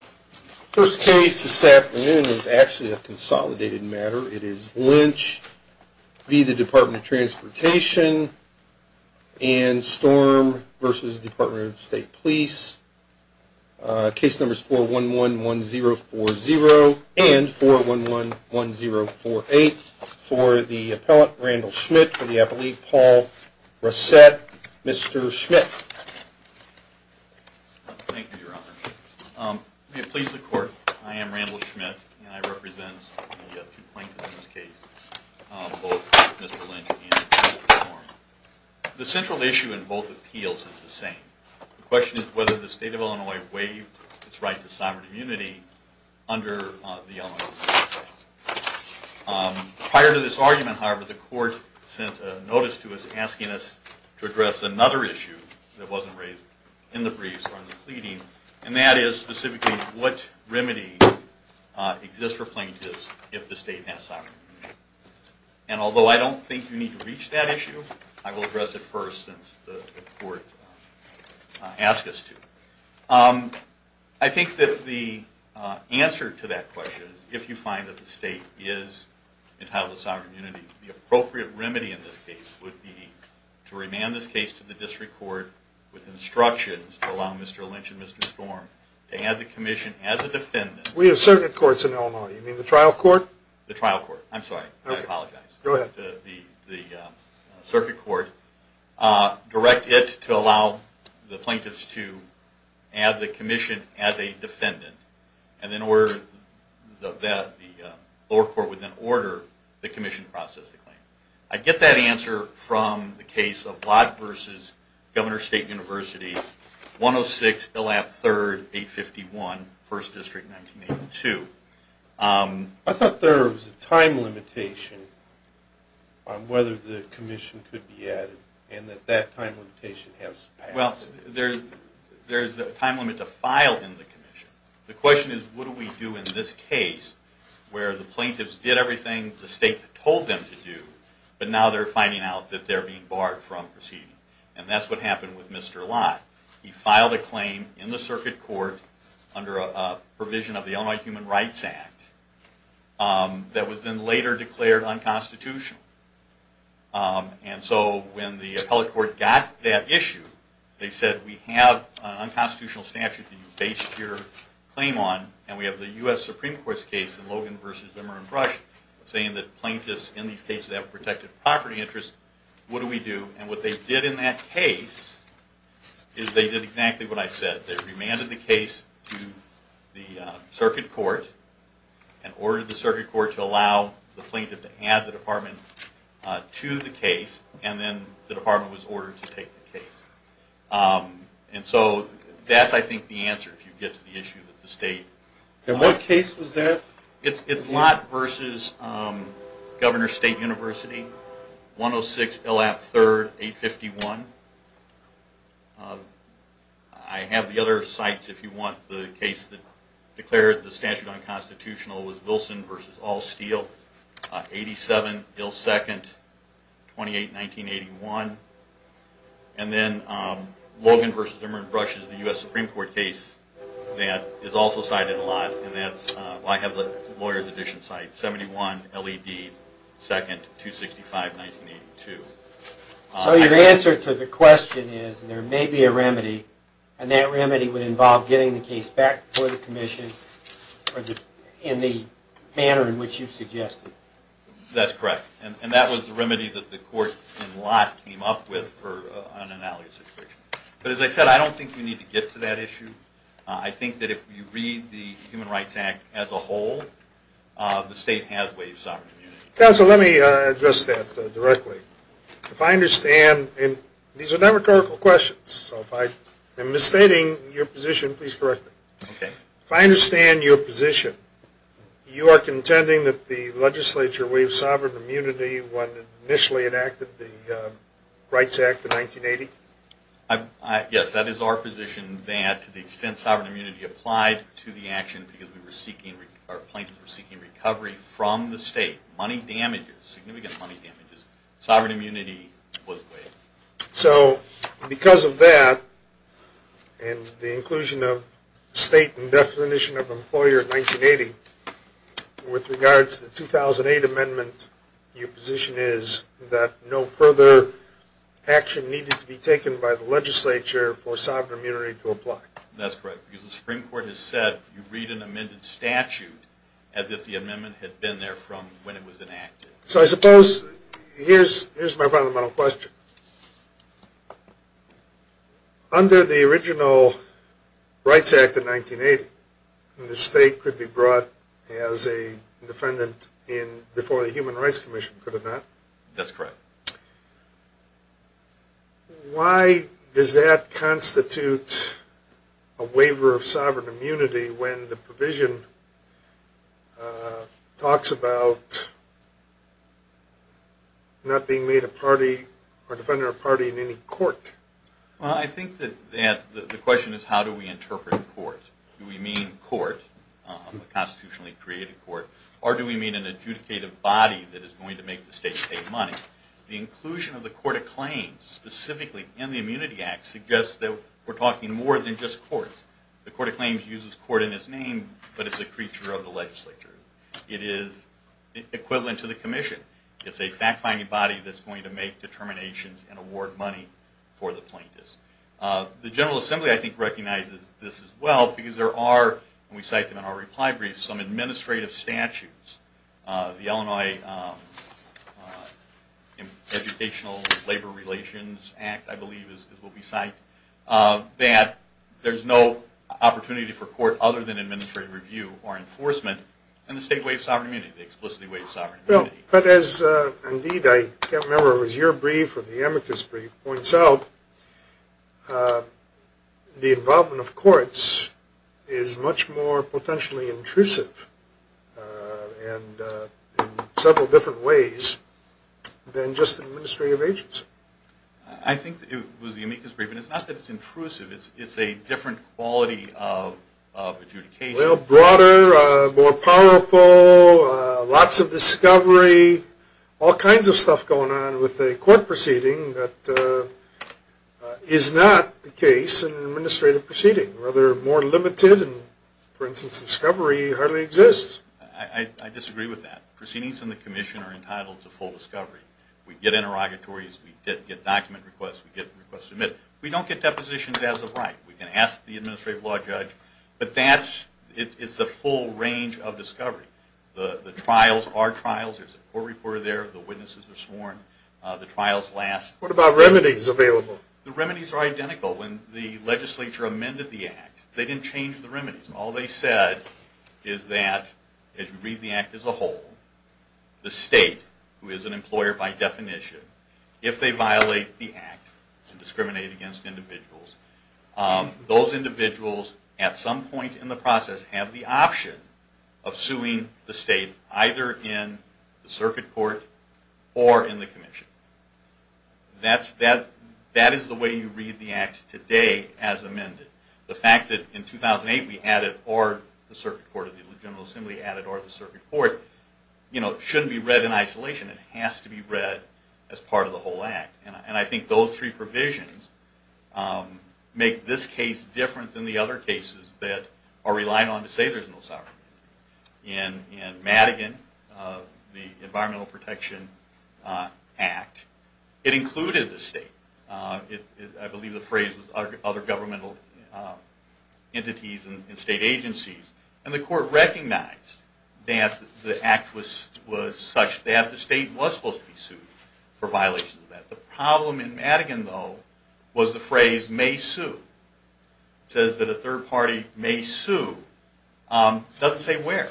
First case this afternoon is actually a consolidated matter. It is Lynch v. the Department of Transportation and Storm v. Department of State Police. Case numbers 4111040 and 4111048 for the appellant Randall Schmidt for the case. May it please the court, I am Randall Schmidt and I represent two plaintiffs in this case, both Mr. Lynch and Mr. Storm. The central issue in both appeals is the same. The question is whether the state of Illinois waived its right to sovereign immunity under the Illinois Constitution. Prior to this argument, however, the court sent a notice to us asking us to address another issue that wasn't raised in the briefs or in the pleading, and that is specifically what remedy exists for plaintiffs if the state has sovereign immunity. And although I don't think you need to reach that issue, I will address it first since the court asked us to. I think that the answer to that question, if you find that the state is entitled to sovereign immunity, the appropriate remedy in this case would be to remand this case to the district court with instructions to allow Mr. Lynch and Mr. Storm to have the commission as a defendant. We have circuit courts in Illinois, you mean the trial court? The trial court, I'm sorry, I apologize. Go ahead. The circuit court direct it to allow the plaintiffs to have the commission as a defendant and then the lower court would then order the commission to process the claim. I get that answer from the case of Watt v. Governor State University, 106 Elam 3rd, 851. I thought there was a time limitation on whether the commission could be added and that that time limitation has passed. Well, there's a time limit to file in the commission. The question is what do we do in this case where the plaintiffs did everything the state told them to do, but now they're finding out that they're being barred from proceeding. And that's what happened with Mr. Lott. He filed a claim in the circuit court under the provision of the Illinois Human Rights Act that was then later declared unconstitutional. And so when the appellate court got that issue, they said we have an unconstitutional statute that you base your claim on and we have the U.S. Supreme Court's case in Logan v. Zimmer and Brush saying that plaintiffs in these cases have a protected property interest. What do we do? And what they did in that case is they did exactly what I said. They remanded the case to the district court. They remanded the case to the circuit court and ordered the circuit court to allow the plaintiff to add the department to the case and then the department was ordered to take the case. And so that's, I think, the answer if you get to the issue that the state... And what case was that? It's Lott v. Governor State University, 106 Illap 3rd, 851. I have the other sites if you want. The case that declared the statute unconstitutional was Wilson v. All Steel, 87 Ill 2nd, 28 1981. And then Logan v. Zimmer and Brush is the U.S. Supreme Court case that is also cited in Lott. I have the lawyer's edition site, 71 L.E.D. 2nd, 265, 1982. So your answer to the question is there may be a remedy and that remedy would involve getting the case back before the commission in the manner in which you suggested. That's correct. And that was the remedy that the court in Lott came up with for an alleged situation. But as I said, I don't think you need to get to that issue. I think that if you read the Human Rights Act as a whole, the state has waived sovereign immunity. Counsel, let me address that directly. If I understand, and these are not rhetorical questions, so if I am misstating your position, please correct me. If I understand your position, you are contending that the legislature waived sovereign immunity when it initially enacted the Rights Act of 1980? Yes, that is our position that to the extent sovereign immunity applied to the action because plaintiffs were seeking recovery from the state, money damages, significant money damages, sovereign immunity was waived. So because of that and the inclusion of state and definition of employer in 1980, with regards to the 2008 amendment, your position is that no further action needed to be taken by the legislature for sovereign immunity to apply? That's correct. Because the Supreme Court has said you read an amended statute as if the amendment had been there from when it was enacted. So I suppose, here's my fundamental question. Under the original Rights Act of 1980, the state could be brought as a defendant before the Human Rights Commission, could it not? That's correct. Why does that constitute a waiver of sovereign immunity when the provision talks about not being made a party or defending a party in any court? Well, I think that the question is how do we interpret court? Do we mean court, a constitutionally created court, or do we mean an adjudicative body that is going to make the state pay money? The inclusion of the Court of Claims specifically in the Immunity Act suggests that we're talking more than just courts. The Court of Claims uses court in its name, but it's a creature of the legislature. It is equivalent to the commission. It's a fact-finding body that's going to make determinations and award money for the plaintiffs. The General Assembly, I think, recognizes this as well because there are, and we cite them in our reply brief, some administrative statutes. The Illinois Educational Labor Relations Act, I believe, is what we cite, that there's no opportunity for court other than administrative review or enforcement, and the state waives sovereign immunity, the explicitly waives sovereign immunity. But as, indeed, I can't remember if it was your brief or the amicus brief, points out, the involvement of courts is much more potentially intrusive in several different ways than just administrative agency. I think it was the amicus brief, and it's not that it's intrusive. It's a different quality of adjudication. Well, broader, more powerful, lots of discovery, all kinds of stuff going on with a court proceeding that is not the case in an administrative proceeding. Rather, more limited, and for instance, discovery hardly exists. I disagree with that. Proceedings in the commission are entitled to full discovery. We get interrogatories, we get document requests, we get requests submitted. We don't get depositions as of right. We can ask the administrative law judge, but that's the full range of discovery. The trials are trials. There's a court reporter there, the witnesses are sworn, the trials last. What about remedies available? The remedies are identical. When the legislature amended the act, they didn't change the remedies. All they said is that, as you read the act as a whole, the state, who is an employer by definition, if they violate the act to discriminate against individuals, those individuals at some point in the process have the option of suing the state, either in the circuit court or in the commission. That is the way you read the act today as amended. The fact that in 2008 we added, or the circuit court of the General Assembly added, or the circuit court, shouldn't be read in isolation. It has to be read as part of the whole act. And I think those three provisions make this case different than the other cases that are relied on to say there's no sovereign. In Madigan, the Environmental Protection Act, it included the state. I believe the phrase was other governmental entities and state agencies. And the court recognized that the act was such that the state was supposed to be sued for violations of that. The problem in Madigan, though, was the phrase may sue. It says that a third party may sue. It doesn't say where.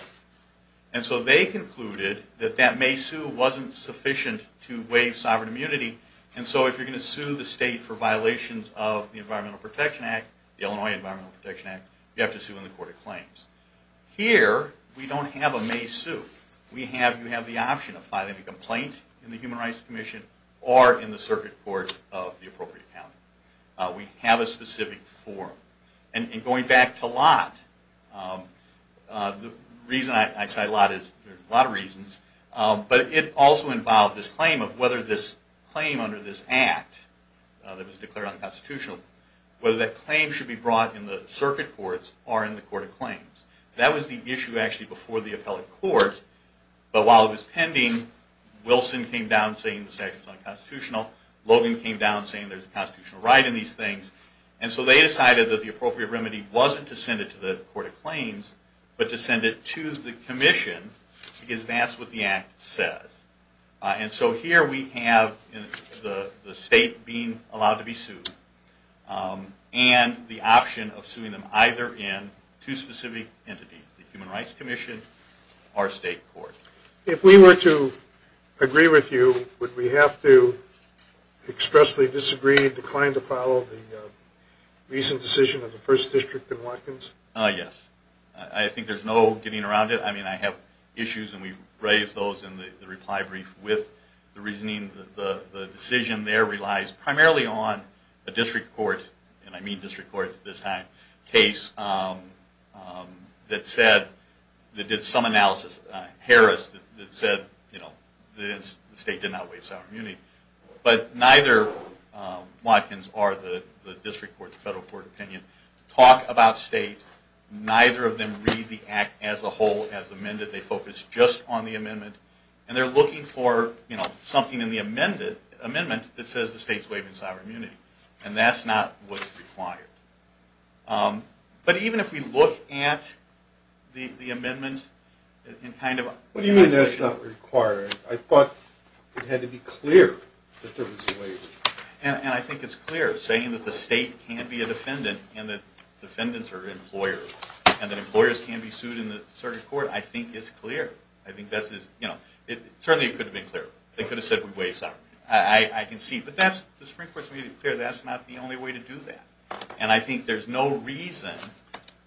And so they concluded that that may sue wasn't sufficient to waive sovereign immunity. And so if you're going to sue the state for violations of the Environmental Protection Act, the Illinois Environmental Protection Act, you have to sue in the court of claims. Here, we don't have a may sue. You have the option of filing a complaint in the Human Rights Commission or in the circuit court of the appropriate county. We have a specific form. And going back to Lott, the reason I cite Lott is, there's a lot of reasons, but it also involved this claim of whether this claim under this act that was declared unconstitutional, whether that claim should be brought in the circuit courts or in the court of claims. That was the issue actually before the appellate court. But while it was pending, Wilson came down saying the statute was unconstitutional. Logan came down saying there's a constitutional right in these things. And so they decided that the appropriate remedy wasn't to send it to the court of claims, but to send it to the commission because that's what the act says. And so here we have the state being allowed to be sued and the option of suing them either in two specific entities, the Human Rights Commission or state court. If we were to agree with you, would we have to expressly disagree, decline to follow the recent decision of the first district in Watkins? Well, there's a lot of evidence that says the state did not waive sovereign immunity. But neither Watkins or the district court or the federal court opinion talk about state. Neither of them read the act as a whole, as amended. They focus just on the amendment. And they're looking for something in the amendment that says the state is waiving sovereign immunity. And that's not what's required. But even if we look at the amendment... What do you mean that's not required? I thought it had to be clear that there was a waiver. And I think it's clear, saying that the state can be a defendant and that defendants are employers and that employers can be sued in the circuit court, I think is clear. Certainly it could have been clearer. They could have said we waive sovereign immunity. I can see. But the Supreme Court's made it clear that's not the only way to do that. And I think there's no reason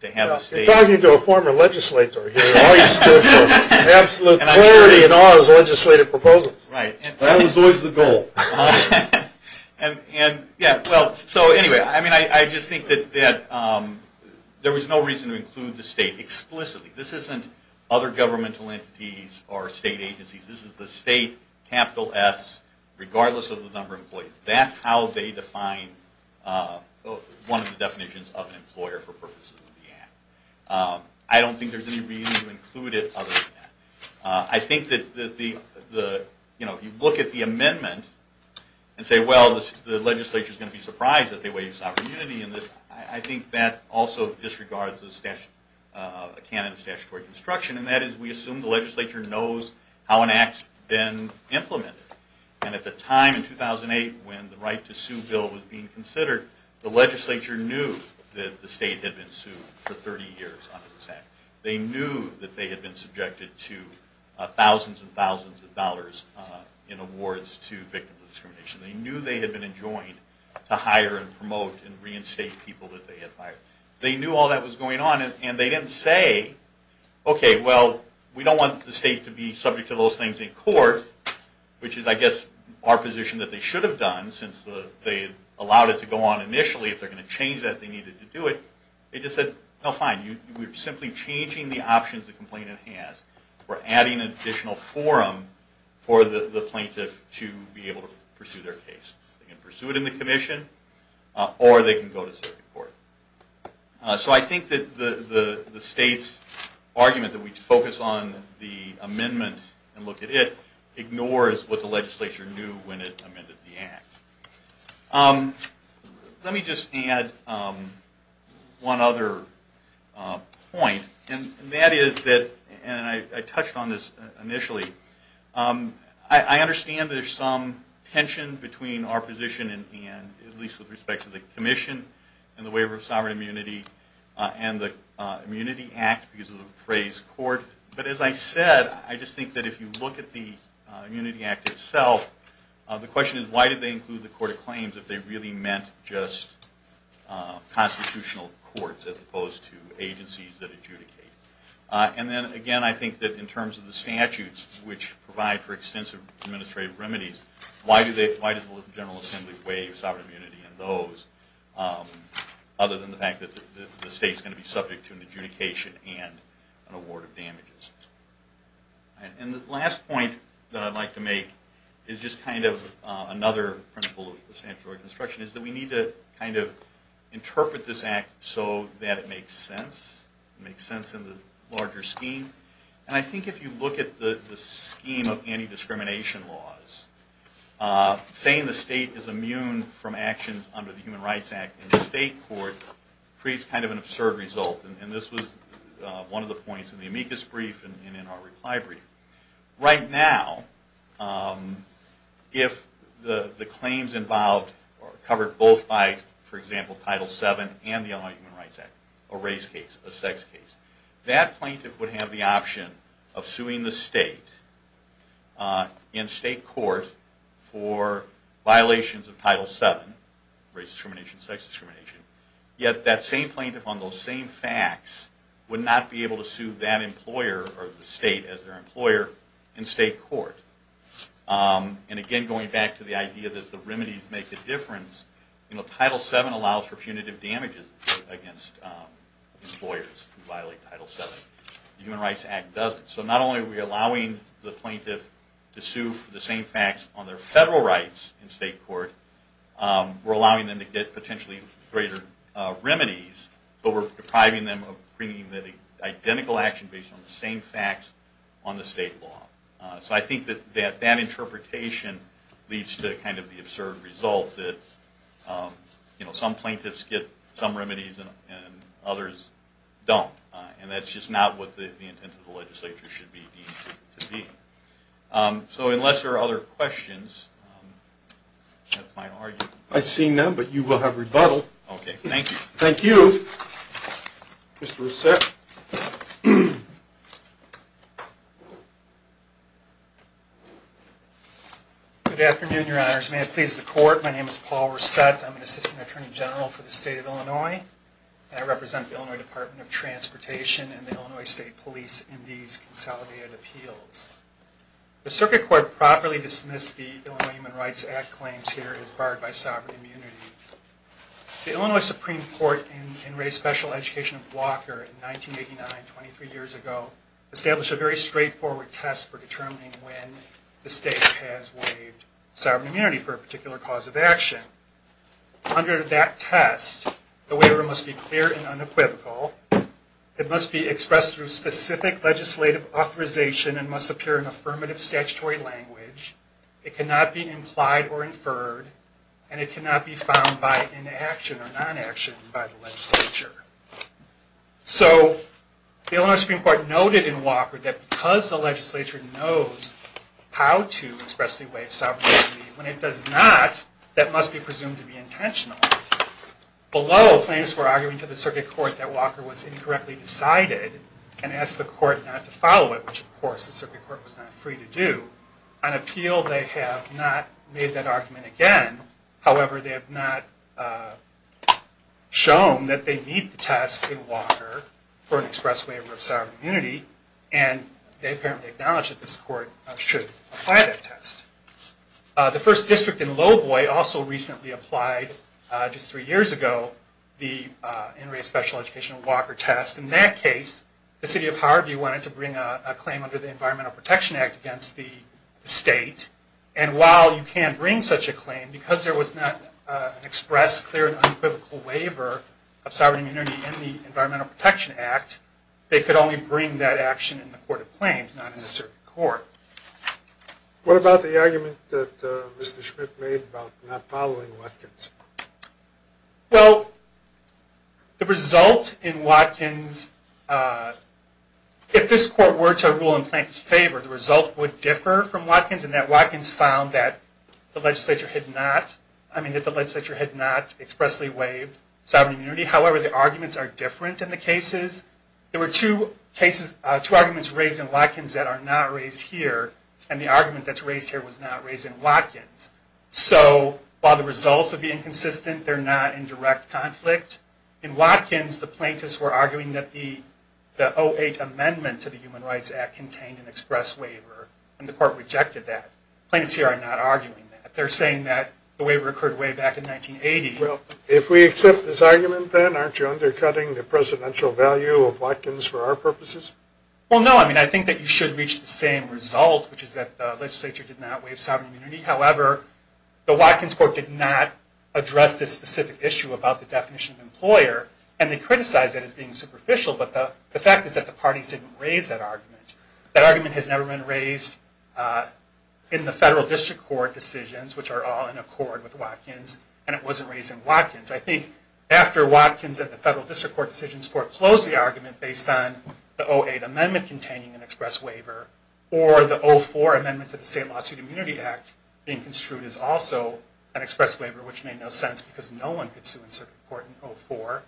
to have a state... You're talking to a former legislator here who always stood for absolute clarity in all his legislative proposals. That was always the goal. So anyway, I just think that there was no reason to include the state explicitly. This isn't other governmental entities or state agencies. This is the state, capital S, regardless of the number of employees. That's how they define one of the definitions of an employer for purposes of the act. I don't think there's any reason to include it other than that. I think that if you look at the amendment and say, well, the legislature is going to be surprised that they waive sovereign immunity, I think that also disregards the canon of statutory construction. And that is we assume the legislature knows how an act's been implemented. And at the time in 2008 when the right to sue bill was being considered, the legislature knew that the state had been sued for 30 years under this act. They knew that they had been subjected to thousands and thousands of dollars in awards to victims of discrimination. They knew they had been enjoined to hire and promote and reinstate people that they had hired. They knew all that was going on and they didn't say, okay, well, we don't want the state to be subject to those things in court, which is, I guess, our position that they should have done since they allowed it to go on initially. If they're going to change that, they needed to do it. They just said, no, fine, we're simply changing the options the complainant has. We're adding an additional forum for the plaintiff to be able to pursue their case. They can pursue it in the commission or they can go to circuit court. So I think that the state's argument that we focus on the amendment and look at it ignores what the legislature knew when it amended the act. Let me just add one other point, and that is that, and I touched on this initially, I understand there's some tension between our position, at least with respect to the commission and the waiver of sovereign immunity and the immunity act because of the phrase court. But as I said, I just think that if you look at the immunity act itself, the question is why did they include the court of claims if they really meant just constitutional courts as opposed to agencies that adjudicate. And then again, I think that in terms of the statutes, which provide for extensive administrative remedies, why does the general assembly waive sovereign immunity and those other than the fact that the state's going to be subject to an adjudication and an award of damages. And the last point that I'd like to make is just kind of another principle of substantial reconstruction, is that we need to kind of interpret this act so that it makes sense. It makes sense in the larger scheme. And I think if you look at the scheme of anti-discrimination laws, saying the state is immune from actions under the Human Rights Act in the state court creates kind of an absurd result. And this was one of the points in the amicus brief and in our reply brief. Right now, if the claims involved are covered both by, for example, Title VII and the Illinois Human Rights Act, a race case, a sex case, that plaintiff would have the option of suing the state in state court for violations of Title VII, race discrimination, sex discrimination. Yet that same plaintiff on those same facts would not be able to sue that employer or the state as their employer in state court. And again, going back to the idea that the remedies make a difference, Title VII allows for punitive damages against employers who violate Title VII. The Human Rights Act doesn't. So not only are we allowing the plaintiff to sue for the same facts on their federal rights in state court, we're allowing them to get potentially greater remedies, but we're depriving them of bringing the identical action based on the same facts on the state law. So I think that that interpretation leads to kind of the absurd result that some plaintiffs get some remedies and others don't. And that's just not what the intent of the legislature should be. So unless there are other questions, that's my argument. I've seen them, but you will have rebuttal. Okay. Thank you. Thank you. Mr. Rousset. Good afternoon, Your Honors. May it please the Court, my name is Paul Rousset. I'm an Assistant Attorney General for the State of Illinois. I represent the Illinois Department of Transportation and the Illinois State Police in these consolidated appeals. The circuit court properly dismissed the Illinois Human Rights Act claims here as barred by sovereign immunity. The Illinois Supreme Court in Ray's special education blocker in 1989, 23 years ago, established a very straightforward test for determining when the state has waived sovereign immunity for a particular cause of action. Under that test, the waiver must be clear and unequivocal. It must be expressed through specific legislative authorization and must appear in affirmative statutory language. It cannot be implied or inferred. And it cannot be found by inaction or non-action by the legislature. So the Illinois Supreme Court noted in Walker that because the legislature knows how to express the waiver of sovereign immunity, when it does not, that must be presumed to be intentional. Below, claims were arguing to the circuit court that Walker was incorrectly decided and asked the court not to follow it, which of course the circuit court was not free to do. On appeal, they have not made that argument again. However, they have not shown that they meet the test in Walker for an expressed waiver of sovereign immunity. And they apparently acknowledge that this court should apply that test. The first district in Lowboy also recently applied, just three years ago, the in Ray's special educational blocker test. In that case, the city of Harvey wanted to bring a claim under the Environmental Protection Act against the state. And while you can bring such a claim, because there was not an expressed, clear, and unequivocal waiver of sovereign immunity in the Environmental Protection Act, they could only bring that action in the court of claims, not in the circuit court. What about the argument that Mr. Schmidt made about not following Watkins? Well, the result in Watkins, if this court were to rule in Plankton's favor, the result would differ from Watkins in that Watkins found that the legislature had not expressly waived sovereign immunity. However, the arguments are different in the cases. There were two cases, two arguments raised in Watkins that are not raised here, and the argument that's raised here was not raised in Watkins. So, while the results would be inconsistent, they're not in direct conflict. In Watkins, the plaintiffs were arguing that the 08 amendment to the Human Rights Act contained an express waiver, and the court rejected that. Plaintiffs here are not arguing that. They're saying that the waiver occurred way back in 1980. Well, if we accept this argument then, aren't you undercutting the presidential value of Watkins for our purposes? Well, no. I mean, I think that you should reach the same result, which is that the legislature did not waive sovereign immunity. However, the Watkins court did not address this specific issue about the definition of employer, and they criticized it as being superficial, but the fact is that the parties didn't raise that argument. That argument has never been raised in the federal district court decisions, which are all in accord with Watkins, and it wasn't raised in Watkins. I think after Watkins and the federal district court decisions, the court closed the argument based on the 08 amendment containing an express waiver, or the 04 amendment to the State Lawsuit Immunity Act being construed as also an express waiver, which made no sense because no one could sue in circuit court in 04.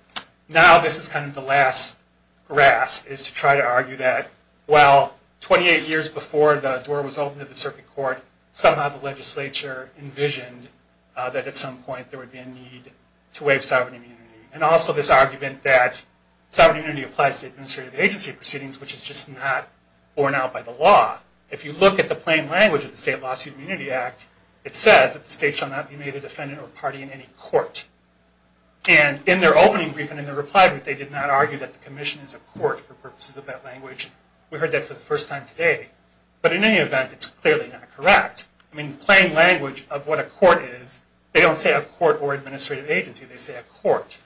Now this is kind of the last grasp, is to try to argue that, well, 28 years before the door was opened to the circuit court, somehow the legislature envisioned that at some point there would be a need to waive sovereign immunity. And also this argument that sovereign immunity applies to administrative agency proceedings, which is just not borne out by the law. If you look at the plain language of the State Lawsuit Immunity Act, it says that the state shall not be made a defendant or party in any court. And in their opening brief and in their reply, they did not argue that the commission is a court for purposes of that language. We heard that for the first time today. But in any event, it's clearly not correct. I mean, the plain language of what a court is, they don't say a court or administrative agency, they say a court.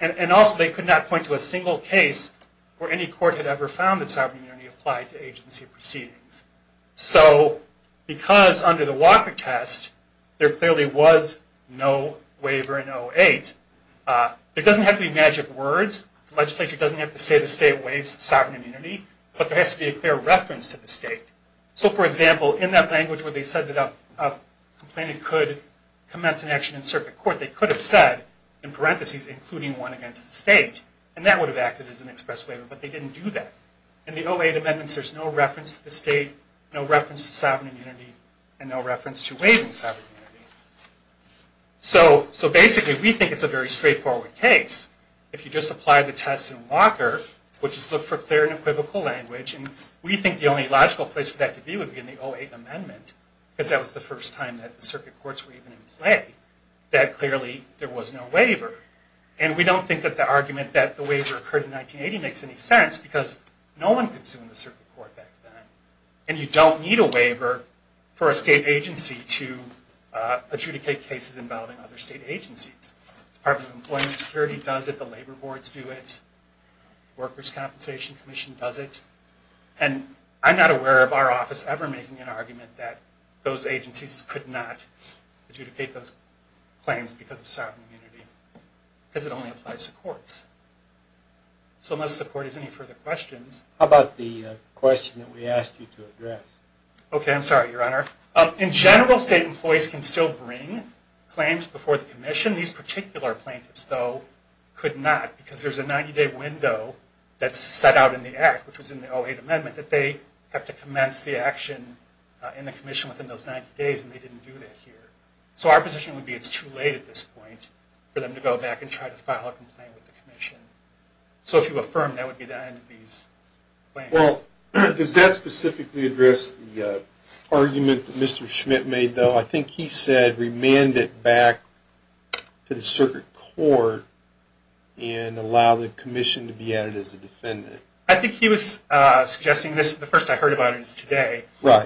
And also they could not point to a single case where any court had ever found that sovereign immunity applied to agency proceedings. So because under the Walker test, there clearly was no waiver in 08, there doesn't have to be magic words, the legislature doesn't have to say the state waives sovereign immunity, but there has to be a clear reference to the state. So for example, in that language where they said that a complainant could commence an action in circuit court, they could have said, in parentheses, including one against the state, and that would have acted as an express waiver, but they didn't do that. In the 08 amendments, there's no reference to the state, no reference to sovereign immunity, and no reference to waiving sovereign immunity. So basically, we think it's a very straightforward case. If you just apply the test in Walker, which is look for clear and equivocal language, and we think the only logical place for that to be would be in the 08 amendment, because that was the first time that the circuit courts were even in play, that clearly there was no waiver. And we don't think that the argument that the waiver occurred in 1980 makes any sense, because no one could sue in the circuit court back then. And you don't need a waiver for a state agency to adjudicate cases involving other state agencies. Department of Employment Security does it, the labor boards do it, Workers' Compensation Commission does it, and I'm not aware of our office ever making an argument that those agencies could not adjudicate those claims because of sovereign immunity. Because it only applies to courts. So unless the court has any further questions... How about the question that we asked you to address? Okay, I'm sorry, Your Honor. In general, state employees can still bring claims before the commission. These particular plaintiffs, though, could not, because there's a 90-day window that's set out in the act, which was in the 08 amendment, that they have to commence the action in the commission within those 90 days, and they didn't do that here. So our position would be it's too late at this point for them to go back and try to file a complaint with the commission. So if you affirm, that would be the end of these claims. Well, does that specifically address the argument that Mr. Schmidt made, though? I think he said remand it back to the circuit court and allow the commission to be added as a defendant. I think he was suggesting this, the first I heard about it today,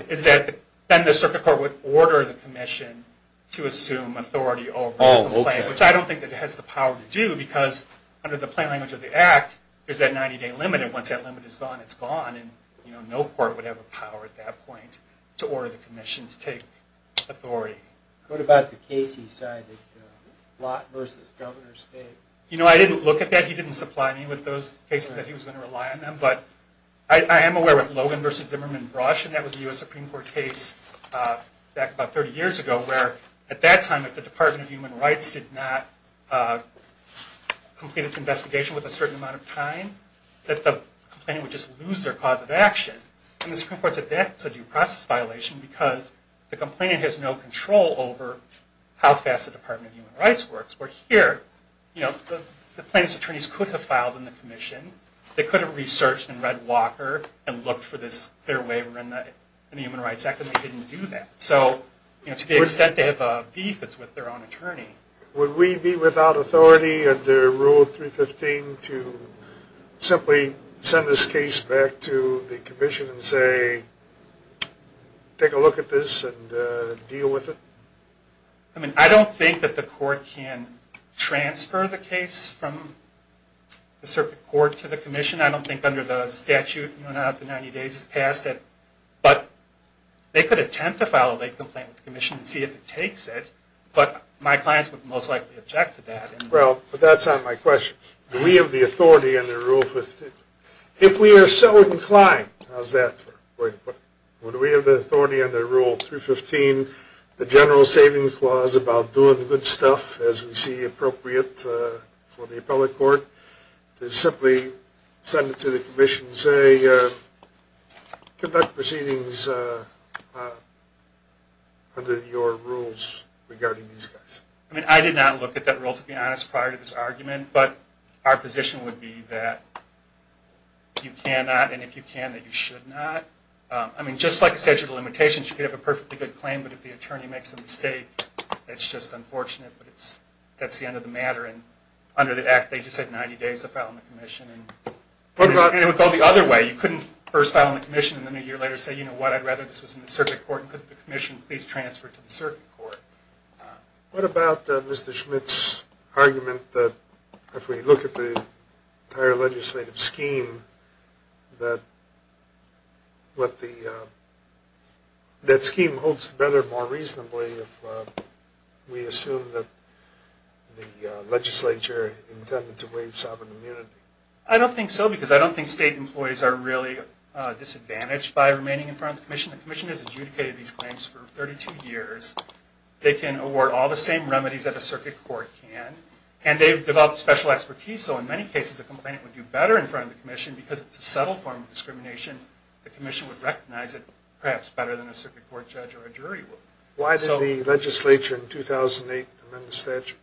is that then the circuit court would order the commission to assume authority over the complaint, which I don't think it has the power to do, because under the plain language of the act, there's that 90-day limit, and once that limit is gone, it's gone, and no court would have the power at that point to order the commission to take authority. What about the case he cited, Lott v. Governor Schmidt? You know, I didn't look at that. He didn't supply me with those cases that he was going to rely on them, but I am aware of Logan v. Zimmerman-Brosch, and that was a U.S. Supreme Court case back about 30 years ago, where at that time, if the Department of Human Rights did not complete its investigation with a certain amount of time, that the complainant would just lose their cause of action. And the Supreme Court said that's a due process violation because the complainant has no control over how fast the Department of Human Rights works, where here, you know, the plaintiff's attorneys could have filed in the commission, they could have researched and read Walker and looked for this clear waiver in the Human Rights Act, but they didn't do that. So, you know, to the extent they have a beef, it's with their own attorney. Would we be without authority under Rule 315 to simply send this case back to the commission and say, take a look at this and deal with it? I mean, I don't think that the court can transfer the case from the Supreme Court to the commission. I don't think under the statute, you know, not after 90 days has passed that, but they could attempt to file a late complaint with the commission and see if it takes it, but my clients would most likely object to that. Well, but that's not my question. Do we have the authority under Rule 315? If we are so inclined, how's that? Would we have the authority under Rule 315, the general savings clause about doing good stuff as we see appropriate for the appellate court, to simply send it to the commission and say, conduct proceedings under your rules regarding these guys? I mean, I did not look at that rule, to be honest, prior to this argument, but our position would be that you cannot, and if you can, that you should not. I mean, just like a statute of limitations, you could have a perfectly good claim, but if the attorney makes a mistake, it's just unfortunate, but that's the end of the matter. And under the Act, they just said 90 days to file the commission. And it would go the other way. You couldn't first file a commission and then a year later say, you know what, I'd rather this was in the circuit court, and could the commission please transfer it to the circuit court? What about Mr. Schmidt's argument that if we look at the entire legislative scheme, that scheme holds together more reasonably if we assume that the legislature intended to waive sovereign immunity? I don't think so, because I don't think state employees are really disadvantaged by remaining in front of the commission. The commission has adjudicated these claims for 32 years. They can award all the same remedies that a circuit court can, and they've developed special expertise, so in many cases, a complainant would do better in front of the commission because it's a subtle form of discrimination. The commission would recognize it perhaps better than a circuit court judge or a jury would. Why didn't the legislature in 2008 amend the statute?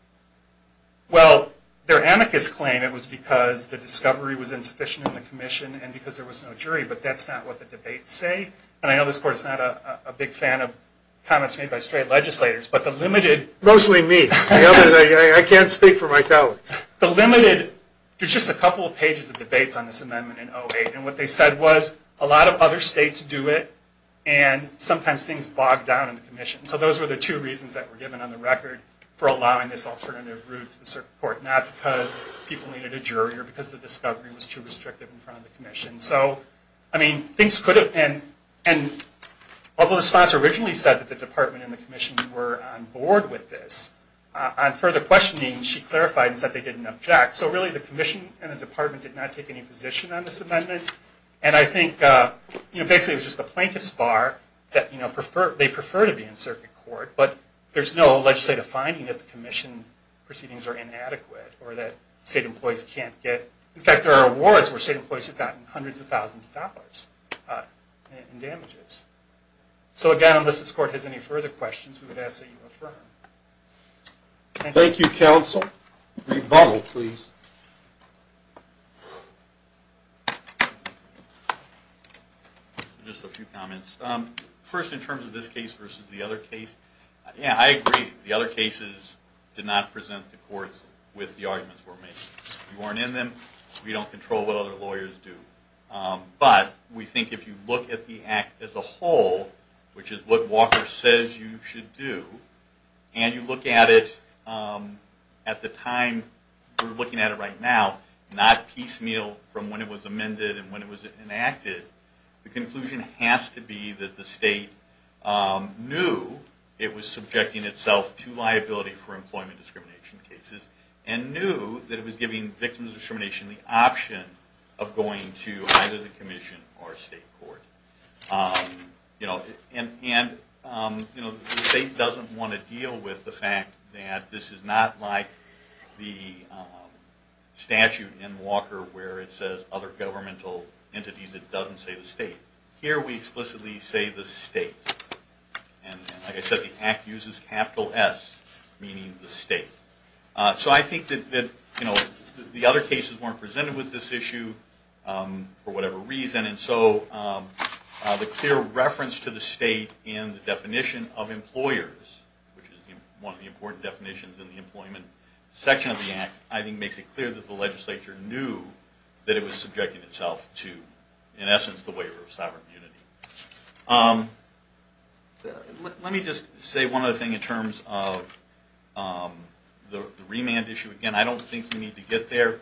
Well, their amicus claim, it was because the discovery was insufficient in the commission and because there was no jury, but that's not what the debates say. And I know this court is not a big fan of comments made by straight legislators, but the limited... Mostly me. I can't speak for my colleagues. There's just a couple of pages of debates on this amendment in 2008, and what they said was, a lot of other states do it, and sometimes things bog down in the commission. So those were the two reasons that were given on the record for allowing this alternative route to the circuit court, not because people needed a jury or because the discovery was too restrictive in front of the commission. Although the sponsor originally said that the department and the commission were on board with this, on further questioning, she clarified and said they didn't object. So really, the commission and the department did not take any position on this amendment, and I think basically it was just a plaintiff's bar that they prefer to be in circuit court, but there's no legislative finding that the commission proceedings are inadequate or that state employees can't get... So again, unless this court has any further questions, we would ask that you affirm. Thank you, counsel. Rebuttal, please. Just a few comments. First, in terms of this case versus the other case, yeah, I agree. The other cases did not present the courts with the arguments we're making. We weren't in them. We don't control what other lawyers do. But we think if you look at the act as a whole, which is what Walker says you should do, and you look at it at the time we're looking at it right now, not piecemeal from when it was amended and when it was enacted, the conclusion has to be that the state knew it was subjecting itself to liability for employment discrimination cases, and knew that it was giving victims of discrimination the option of going to ICE. And the state doesn't want to deal with the fact that this is not like the statute in Walker where it says other governmental entities, it doesn't say the state. Here we explicitly say the state. And like I said, the act uses capital S, meaning the state. So I think that the other cases weren't presented with this issue for whatever reason, and so the clear reference to the state in the definition of employers, which is one of the important definitions in the employment section of the act, I think makes it clear that the legislature knew that it was subjecting itself to, in essence, the waiver of sovereign unity. Let me just say one other thing in terms of the remand issue. Again, I don't think we need to get there,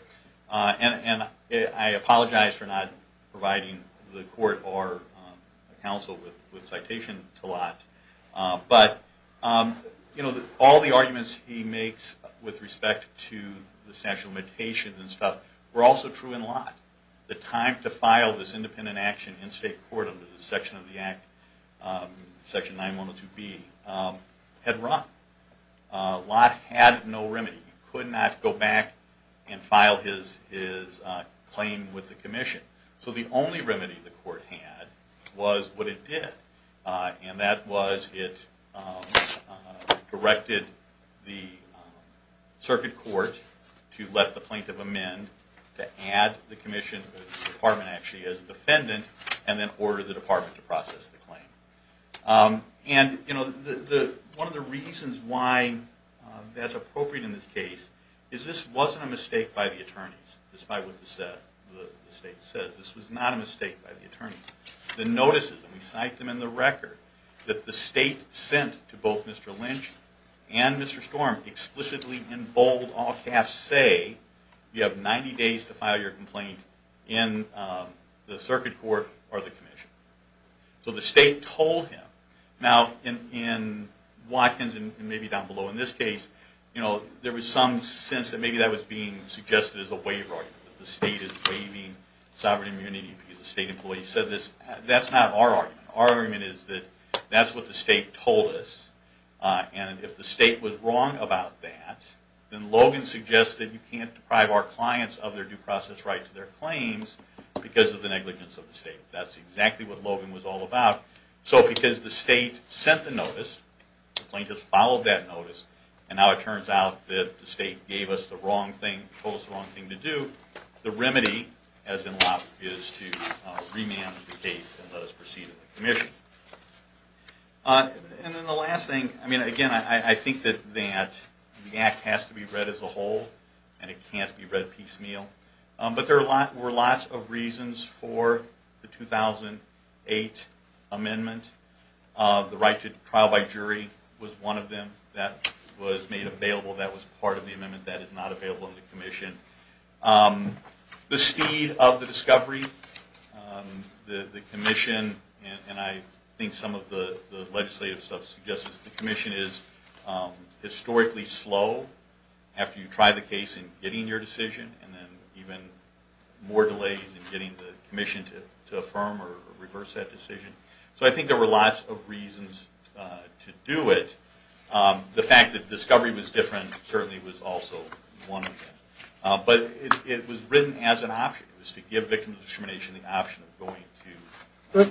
and I apologize for not providing the court or counsel with citation to Lott, but all the arguments he makes with respect to the statute of limitations were also true in Lott. The time to file this independent action in state court under the section of the act, section 9102B, had run. Lott had no remedy. He could not go back and file his claim with the commission. So the only remedy the court had was what it did, and that was it directed the circuit court to let the plaintiff amend, to add the commission to the department actually as a defendant, and then order the department to process the claim. One of the reasons why that's appropriate in this case is this wasn't a mistake by the attorneys, despite what the state said. This was not a mistake by the attorneys. The notices, and we cite them in the record, that the state sent to both Mr. Lynch and Mr. Storm explicitly and bold say you have 90 days to file your complaint in the circuit court or the commission. So the state told him. Now in Watkins and maybe down below in this case, there was some sense that maybe that was being suggested as a waiver. The state is waiving sovereign immunity because the state employee said this. That's not our argument. Our argument is that that's what the state told us, and if the state was wrong about that, then Logan suggests that you can't deprive our clients of their due process right to their claims because of the negligence of the state. That's exactly what Logan was all about. So because the state sent the notice, the plaintiff followed that notice, and now it turns out that the state gave us the wrong thing, told us the wrong thing to do, the remedy is to remand the case and let us proceed with the commission. And then the last thing, again I think that the act has to be read as a whole and it can't be read piecemeal. But there were lots of reasons for the 2008 amendment. The right to trial by jury was one of them that was made available. That was part of the amendment that is not available in the commission. The speed of the discovery, the commission, and I think some of the legislative stuff suggests that the commission is historically slow after you try the case in getting your decision, and then even more delays in getting the commission to affirm or reverse that decision. So I think there were lots of reasons to do it. The fact that discovery was different certainly was also one of them. But it was written as an option. It was to give victims of discrimination the option of going to... And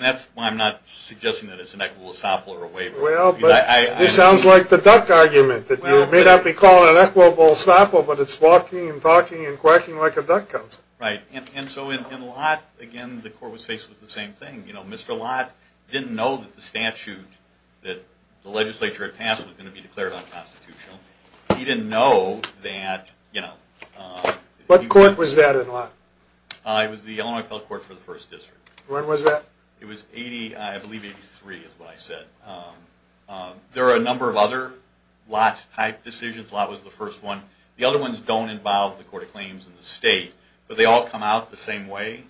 that's why I'm not suggesting that it's an equitable estoppel or a waiver. Well, but it sounds like the duck argument, that you may not be calling it an equitable estoppel, but it's walking and talking and quacking like a duck council. Right. And so in Lott, again, the court was faced with the same thing. Mr. Lott didn't know that the statute that the legislature had passed was going to be declared unconstitutional. He didn't know that... What court was that in Lott? It was the Illinois Appellate Court for the First District. When was that? It was, I believe, 83 is what I said. There are a number of other Lott-type decisions. Lott was the first one. The other ones don't involve the Court of Claims and the state, but they all come out the same way.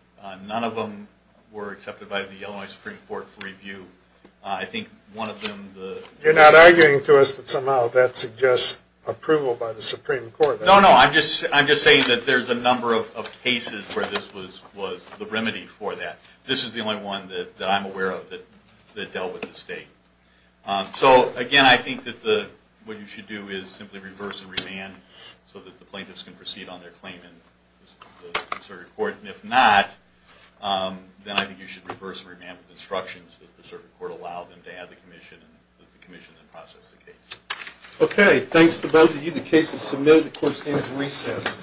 None of them were accepted by the Illinois Supreme Court for review. I think one of them... You're not arguing to us that somehow that suggests approval by the Supreme Court. No, no. I'm just saying that there's a number of cases where this was the remedy for that. This is the only one that I'm aware of that dealt with the state. So, again, I think that what you should do is simply reverse and remand so that the plaintiffs can proceed on their claim in the circuit court. And if not, then I think you should reverse and remand with instructions that the circuit court allow them to have the commission and let the commission process the case. Okay. Thanks to both of you. The case is submitted. The court stands in recess.